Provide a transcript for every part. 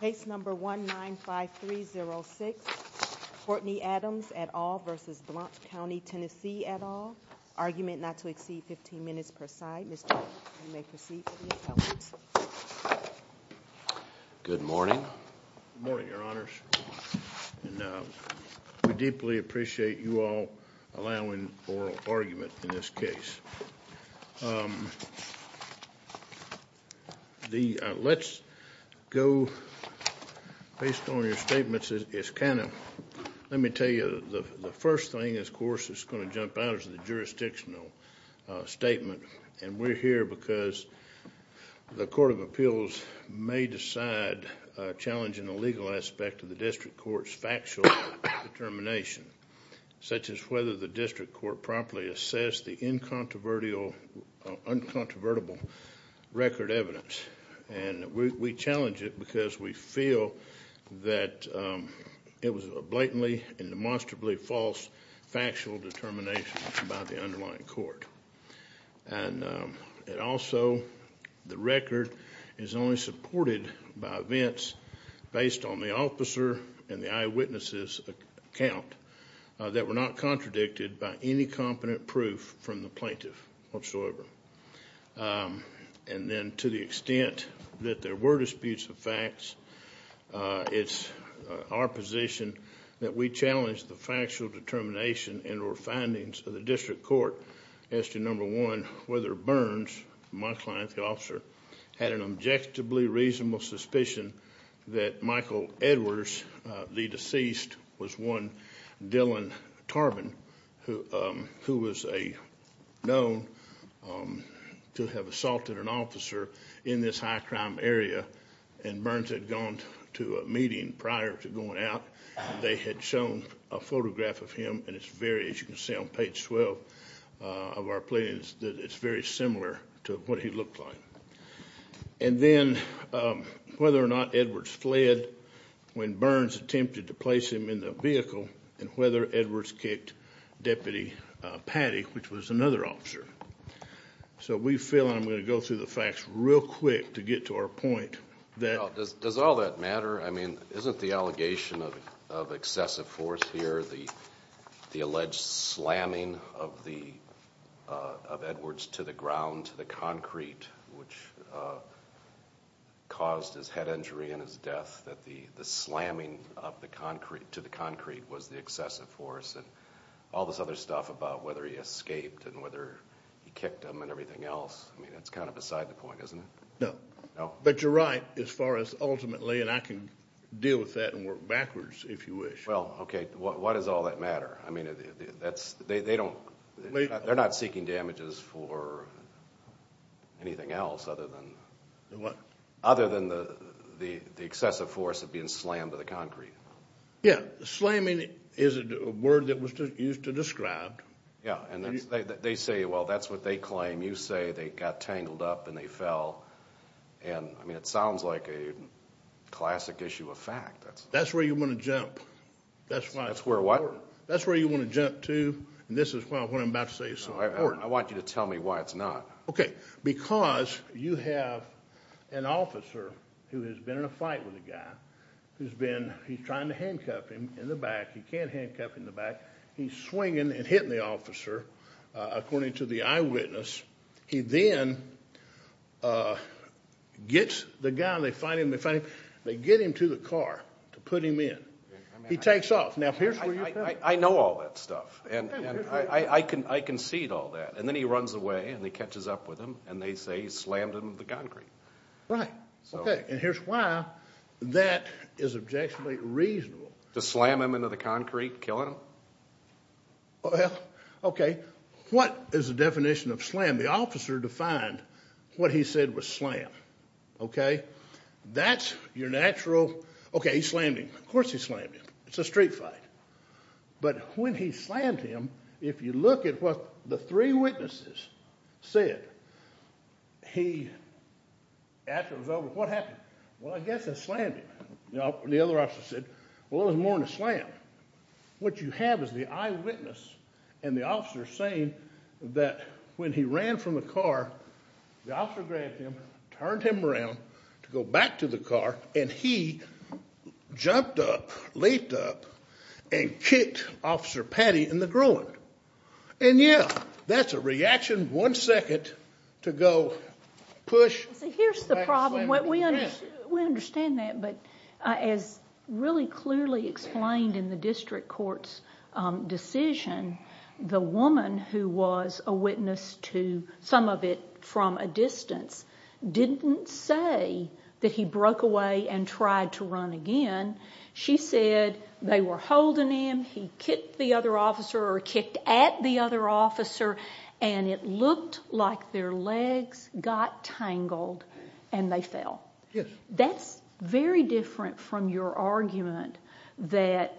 Case number 195306, Courtney Adams et al. v. Blount County, Tennessee et al. Argument not to exceed 15 minutes per side. Mr. Adams, you may proceed to the appellate. Good morning. Good morning, Your Honors. We deeply appreciate you all allowing oral argument in this case. Let's go, based on your statements, it's kind of... Let me tell you, the first thing, of course, that's going to jump out is the jurisdictional statement. And we're here because the Court of Appeals may decide challenging a legal aspect of the District Court's factual determination, such as whether the District Court properly assessed the incontrovertible record evidence. And we challenge it because we feel that it was a blatantly and demonstrably false factual determination by the underlying court. And also, the record is only supported by events based on the officer and the eyewitnesses' account that were not contradicted by any competent proof from the plaintiff whatsoever. And then, to the extent that there were disputes of facts, it's our position that we challenge the factual determination and or findings of the District Court as to, number one, whether Burns, my client, the officer, had an objectively reasonable suspicion that Michael Edwards, the deceased, was one, Dylan Tarbin, who was known to have assaulted an officer in this high-crime area. And Burns had gone to a meeting prior to going out. They had shown a photograph of him, and it's very, as you can see on page 12 of our plaintiffs, that it's very similar to what he looked like. And then, whether or not Edwards fled when Burns attempted to place him in the vehicle, and whether Edwards kicked Deputy Patty, which was another officer. So we feel, and I'm going to go through the facts real quick to get to our point. Does all that matter? I mean, isn't the allegation of excessive force here the alleged slamming of Edwards to the ground, to the concrete, which caused his head injury and his death, that the slamming to the concrete was the excessive force, and all this other stuff about whether he escaped and whether he kicked him and everything else? I mean, that's kind of beside the point, isn't it? No. No? But you're right as far as ultimately, and I can deal with that and work backwards if you wish. Well, okay. Why does all that matter? I mean, they're not seeking damages for anything else other than the excessive force of being slammed to the concrete. Yeah. Slamming is a word that was used to describe. Yeah, and they say, well, that's what they claim. You say they got tangled up and they fell. And, I mean, it sounds like a classic issue of fact. That's where you want to jump. That's where what? That's important. That's where you want to jump to, and this is what I'm about to say is so important. I want you to tell me why it's not. Okay. Because you have an officer who has been in a fight with a guy who's been, he's trying to handcuff him in the back. He can't handcuff him in the back. He's swinging and hitting the officer, according to the eyewitness. He then gets the guy and they find him. They get him to the car to put him in. He takes off. Now, here's where you're at. I know all that stuff, and I can see all that. And then he runs away and he catches up with him, and they say he slammed him in the concrete. Right. Okay, and here's why that is objectionably reasonable. To slam him into the concrete, kill him? Well, okay. What is the definition of slam? The officer defined what he said was slam. Okay? That's your natural, okay, he slammed him. Of course he slammed him. It's a street fight. But when he slammed him, if you look at what the three witnesses said, he, after it was over, what happened? Well, I guess I slammed him. The other officer said, well, it was more than a slam. What you have is the eyewitness and the officer saying that when he ran from the car, the officer grabbed him, turned him around to go back to the car, and he jumped up, leaped up, and kicked Officer Patty in the groin. And, yeah, that's a reaction, one second to go push. See, here's the problem. We understand that, but as really clearly explained in the district court's decision, the woman who was a witness to some of it from a distance didn't say that he broke away and tried to run again. She said they were holding him, he kicked the other officer or kicked at the other officer, and it looked like their legs got tangled and they fell. That's very different from your argument that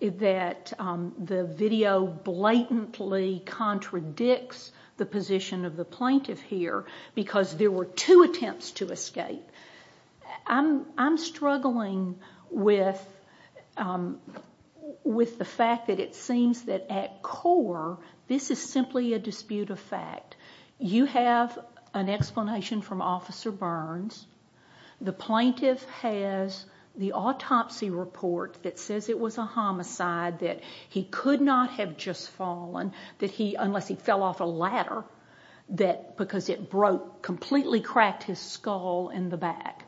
the video blatantly contradicts the position of the plaintiff here because there were two attempts to escape. I'm struggling with the fact that it seems that at core this is simply a dispute of fact. You have an explanation from Officer Burns. The plaintiff has the autopsy report that says it was a homicide, that he could not have just fallen unless he fell off a ladder because it broke, completely cracked his skull in the back.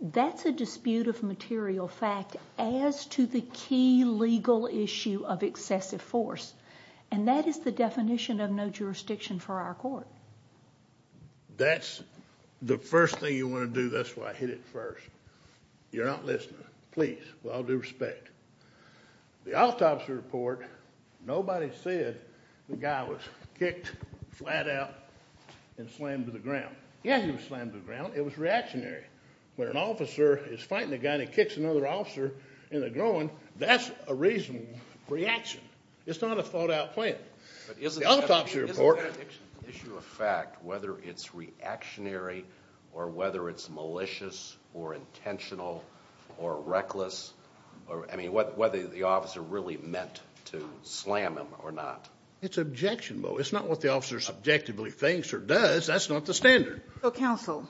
That's a dispute of material fact as to the key legal issue of excessive force, and that is the definition of no jurisdiction for our court. That's the first thing you want to do. That's why I hit it first. You're not listening. Please, with all due respect, the autopsy report, nobody said the guy was kicked flat out and slammed to the ground. Yeah, he was slammed to the ground. It was reactionary. When an officer is fighting a guy and he kicks another officer in the groin, that's a reasonable reaction. It's not a thought-out plan. But isn't the issue of fact, whether it's reactionary or whether it's malicious or intentional or reckless, I mean, whether the officer really meant to slam him or not? It's objectionable. It's not what the officer subjectively thinks or does. That's not the standard. So, counsel,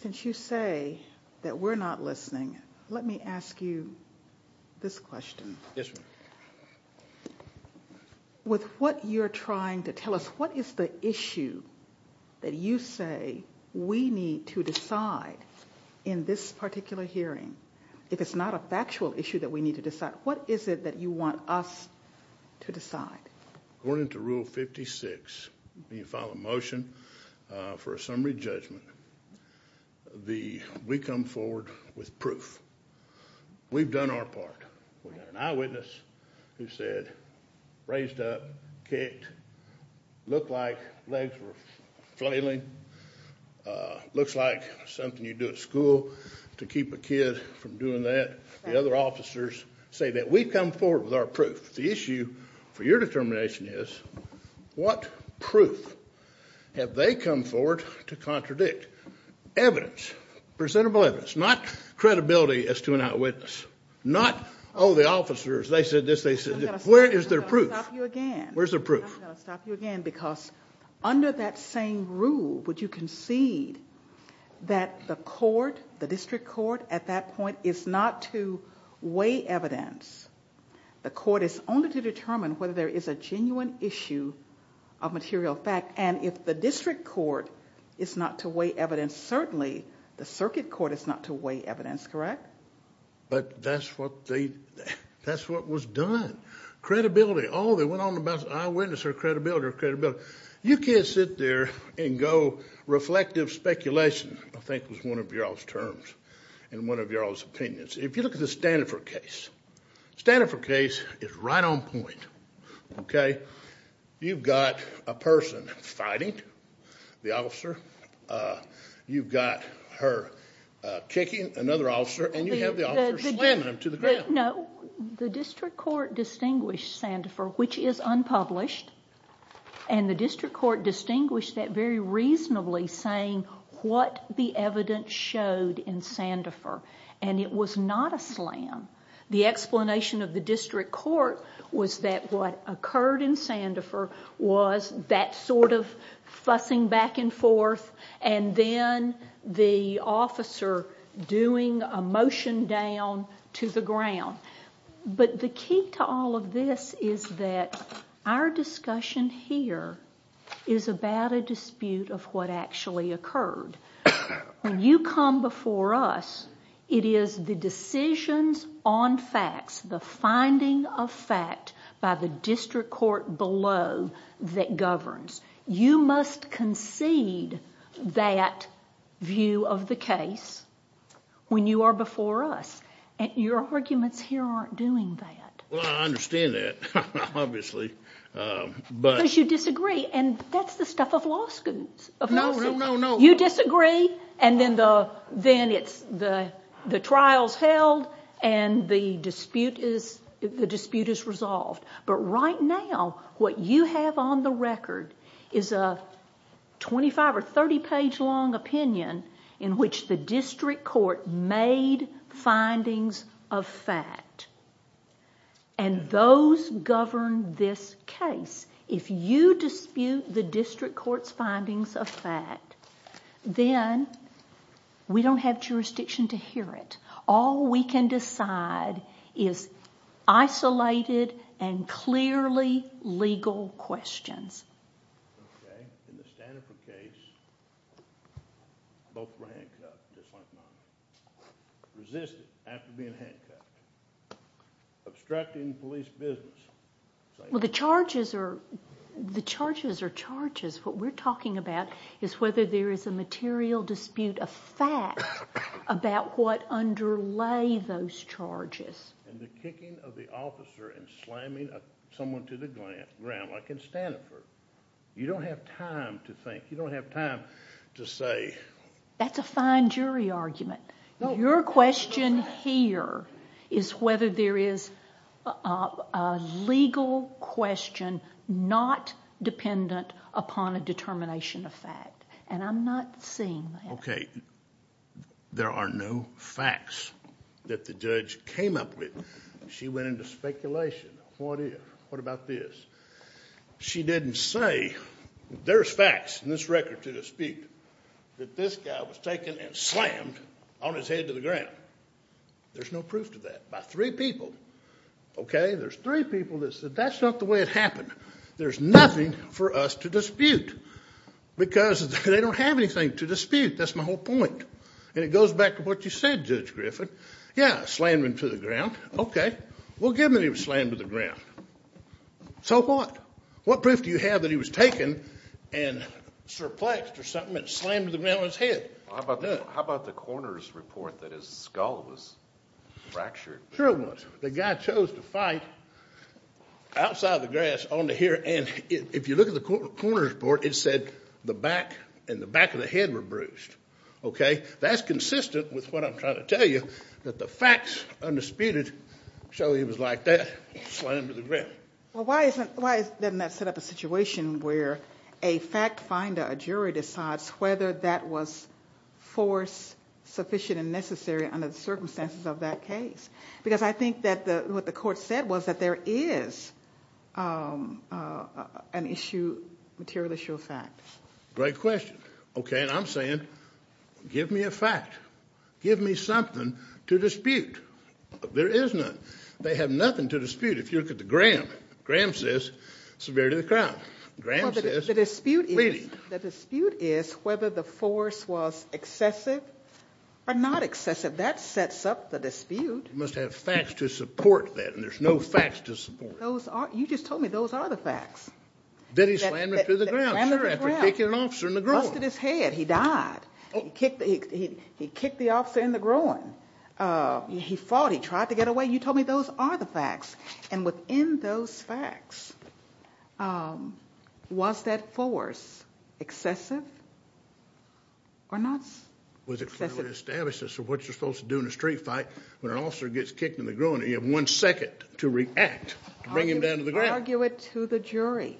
since you say that we're not listening, let me ask you this question. Yes, ma'am. With what you're trying to tell us, what is the issue that you say we need to decide in this particular hearing? If it's not a factual issue that we need to decide, what is it that you want us to decide? According to Rule 56, when you file a motion for a summary judgment, we come forward with proof. We've done our part. We've got an eyewitness who said, raised up, kicked, looked like legs were flailing, looks like something you do at school to keep a kid from doing that. The other officers say that we've come forward with our proof. The issue for your determination is what proof have they come forward to contradict? Evidence. Presentable evidence. Not credibility as to an eyewitness. Not, oh, the officers, they said this, they said that. Where is their proof? I'm going to stop you again. Where's their proof? I'm going to stop you again because under that same rule, would you concede that the court, the district court, at that point is not to weigh evidence. The court is only to determine whether there is a genuine issue of material fact. And if the district court is not to weigh evidence, certainly the circuit court is not to weigh evidence. Correct? But that's what they, that's what was done. Credibility. Oh, they went on about eyewitness or credibility or credibility. You can't sit there and go reflective speculation. I think was one of y'all's terms and one of y'all's opinions. If you look at the Stanford case, Stanford case is right on point. Okay? You've got a person fighting the officer. You've got her kicking another officer and you have the officer slamming him to the ground. No, the district court distinguished Sandifer, which is unpublished, and the district court distinguished that very reasonably saying what the evidence showed in Sandifer. And it was not a slam. The explanation of the district court was that what occurred in Sandifer was that sort of fussing back and forth and then the officer doing a motion down to the ground. But the key to all of this is that our discussion here is about a dispute of what actually occurred. When you come before us, it is the decisions on facts, the finding of fact by the district court below that governs. You must concede that view of the case when you are before us. Your arguments here aren't doing that. Well, I understand that, obviously. Because you disagree, and that's the stuff of law schools. No, no, no, no. You disagree, and then the trial is held and the dispute is resolved. But right now, what you have on the record is a 25- or 30-page-long opinion in which the district court made findings of fact. And those govern this case. If you dispute the district court's findings of fact, then we don't have jurisdiction to hear it. All we can decide is isolated and clearly legal questions. In the Stanford case, both were handcuffed, just like mine. Resisted after being handcuffed. Obstructing police business. Well, the charges are charges. What we're talking about is whether there is a material dispute of fact about what underlay those charges. And the kicking of the officer and slamming someone to the ground, like in Stanford. You don't have time to think. You don't have time to say. That's a fine jury argument. Your question here is whether there is a legal question not dependent upon a determination of fact. And I'm not seeing that. Okay, there are no facts that the judge came up with. She went into speculation. What about this? She didn't say, there's facts in this record to dispute that this guy was taken and slammed on his head to the ground. There's no proof to that. By three people, okay, there's three people that said that's not the way it happened. There's nothing for us to dispute because they don't have anything to dispute. That's my whole point. And it goes back to what you said, Judge Griffin. Yeah, slammed him to the ground. Okay, we'll give him that he was slammed to the ground. So what? What proof do you have that he was taken and surplexed or something and slammed to the ground on his head? How about the coroner's report that his skull was fractured? Sure it was. The guy chose to fight outside the grass, on the hill, and if you look at the coroner's report, it said the back and the back of the head were bruised. Okay, that's consistent with what I'm trying to tell you, that the facts undisputed show he was like that, slammed to the ground. Well, why doesn't that set up a situation where a fact finder, a jury, decides whether that was force sufficient and necessary under the circumstances of that case? Because I think that what the court said was that there is an issue, material issue of facts. Great question. Okay, and I'm saying give me a fact. Give me something to dispute. There is none. They have nothing to dispute. If you look at the Graham, Graham says severity of the crime. Graham says bleeding. The dispute is whether the force was excessive or not excessive. That sets up the dispute. You must have facts to support that, and there's no facts to support it. You just told me those are the facts. That he slammed him to the ground, sir, after kicking an officer in the groin. Busted his head. He died. He kicked the officer in the groin. He fought. He tried to get away. You told me those are the facts, and within those facts, was that force excessive or not excessive? Was it clearly established as to what you're supposed to do in a street fight when an officer gets kicked in the groin and you have one second to react to bring him down to the ground? I argue it to the jury.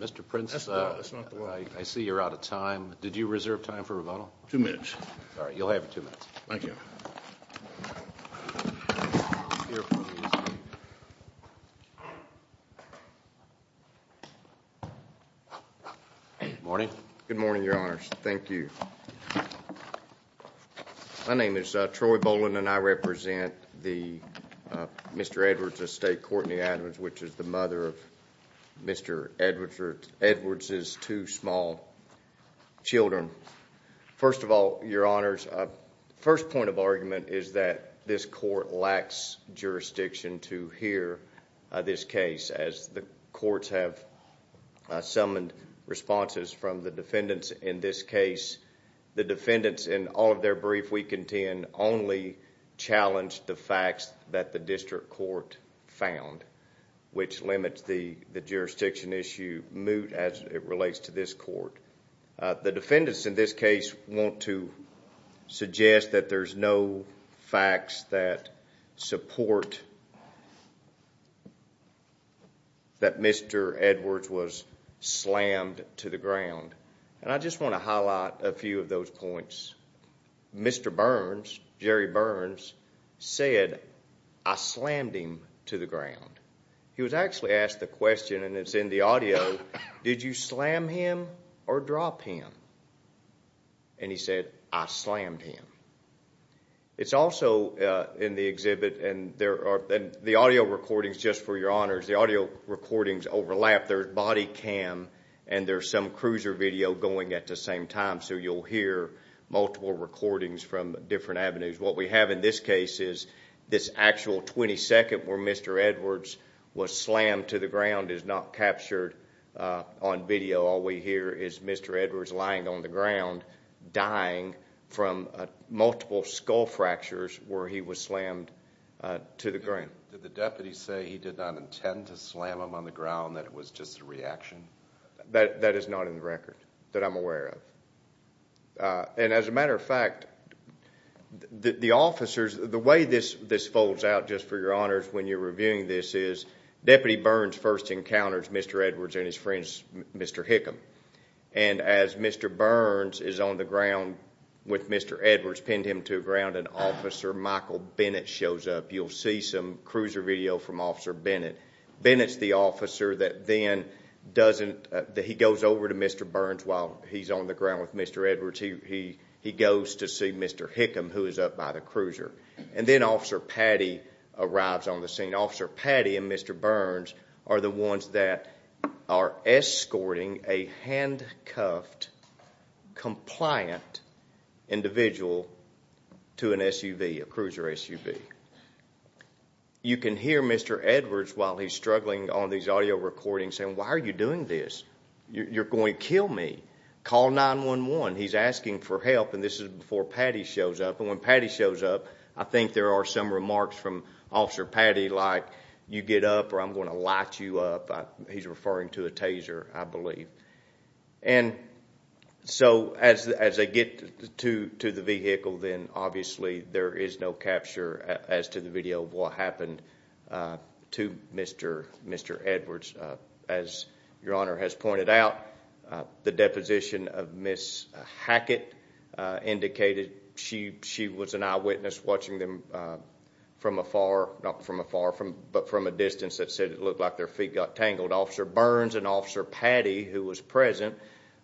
Mr. Prince, I see you're out of time. Did you reserve time for rebuttal? Two minutes. All right, you'll have two minutes. Thank you. Good morning. Good morning, Your Honors. Thank you. My name is Troy Boland, and I represent Mr. Edwards' estate, Courtney Adams, which is the mother of Mr. Edwards' two small children. First of all, Your Honors, the first point of argument is that this court lacks jurisdiction to hear this case. As the courts have summoned responses from the defendants in this case, the defendants in all of their briefs we contend only challenged the facts that the district court found, which limits the jurisdiction issue moot as it relates to this court. The defendants in this case want to suggest that there's no facts that support that Mr. Edwards was slammed to the ground. I just want to highlight a few of those points. Mr. Burns, Jerry Burns, said, I slammed him to the ground. He was actually asked the question, and it's in the audio, did you slam him or drop him? And he said, I slammed him. It's also in the exhibit, and the audio recordings, just for Your Honors, the audio recordings overlap. There's body cam and there's some cruiser video going at the same time, so you'll hear multiple recordings from different avenues. What we have in this case is this actual 22nd where Mr. Edwards was slammed to the ground is not captured on video. All we hear is Mr. Edwards lying on the ground, dying from multiple skull fractures where he was slammed to the ground. Did the deputy say he did not intend to slam him on the ground, that it was just a reaction? That is not in the record that I'm aware of. As a matter of fact, the officers, the way this folds out, just for Your Honors, when you're reviewing this is Deputy Burns first encounters Mr. Edwards and his friends, Mr. Hickam. As Mr. Burns is on the ground with Mr. Edwards, pinned him to the ground, an officer, Michael Bennett, shows up. You'll see some cruiser video from Officer Bennett. Bennett's the officer that then doesn't, he goes over to Mr. Burns while he's on the ground with Mr. Edwards. He goes to see Mr. Hickam who is up by the cruiser. And then Officer Patty arrives on the scene. Officer Patty and Mr. Burns are the ones that are escorting a handcuffed, compliant individual to an SUV, a cruiser SUV. You can hear Mr. Edwards while he's struggling on these audio recordings saying, Why are you doing this? You're going to kill me. Call 911. He's asking for help. And this is before Patty shows up. And when Patty shows up, I think there are some remarks from Officer Patty like, You get up or I'm going to light you up. He's referring to a taser, I believe. And so as they get to the vehicle, then obviously there is no capture as to the video of what happened to Mr. Edwards. As Your Honor has pointed out, the deposition of Miss Hackett indicated she was an eyewitness watching them from afar, not from afar, but from a distance that said it looked like their feet got tangled. Officer Burns and Officer Patty, who was present,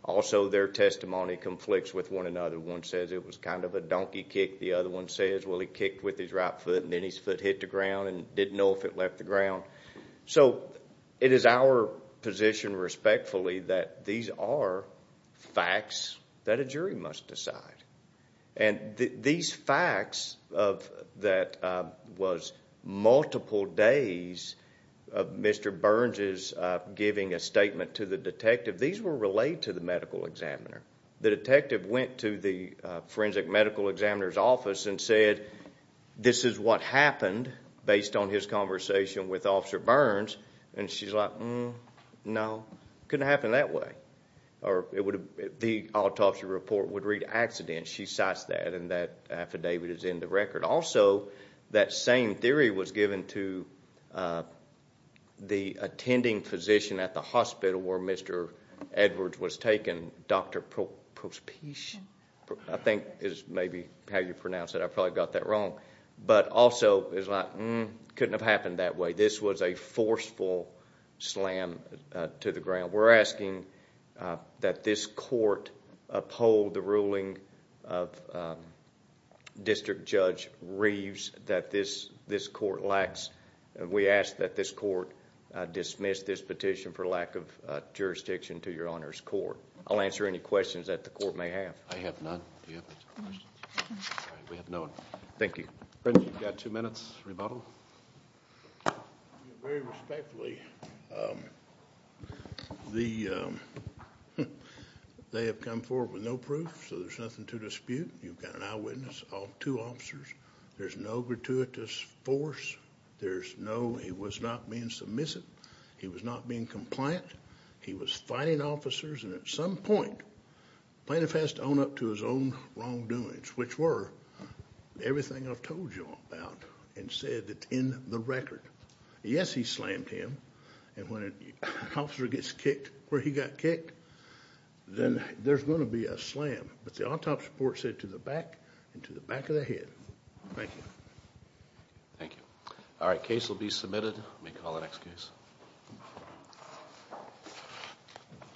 also their testimony conflicts with one another. One says it was kind of a donkey kick. The other one says, well, he kicked with his right foot and then his foot hit the ground and didn't know if it left the ground. So it is our position, respectfully, that these are facts that a jury must decide. And these facts that was multiple days of Mr. Burns' giving a statement to the detective, these were relayed to the medical examiner. The detective went to the forensic medical examiner's office and said, This is what happened based on his conversation with Officer Burns. And she's like, No, it couldn't have happened that way. The autopsy report would read accident. She cites that, and that affidavit is in the record. Also, that same theory was given to the attending physician at the hospital where Mr. Edwards was taken, Dr. Prospech. I think is maybe how you pronounce it. I probably got that wrong. But also, it's like, Mm, couldn't have happened that way. This was a forceful slam to the ground. We're asking that this court uphold the ruling of District Judge Reeves that this court lacks. We ask that this court dismiss this petition for lack of jurisdiction to your Honor's Court. I'll answer any questions that the court may have. I have none. We have none. Thank you. You've got two minutes, rebuttal. Very respectfully, they have come forward with no proof, so there's nothing to dispute. You've got an eyewitness, two officers. There's no gratuitous force. There's no, he was not being submissive. He was not being compliant. He was fighting officers. At some point, plaintiff has to own up to his own wrongdoings, which were everything I've told you about and said that's in the record. Yes, he slammed him. And when an officer gets kicked where he got kicked, then there's going to be a slam. But the autopsy report said to the back and to the back of the head. Thank you. Thank you. All right, case will be submitted. We'll call the next case.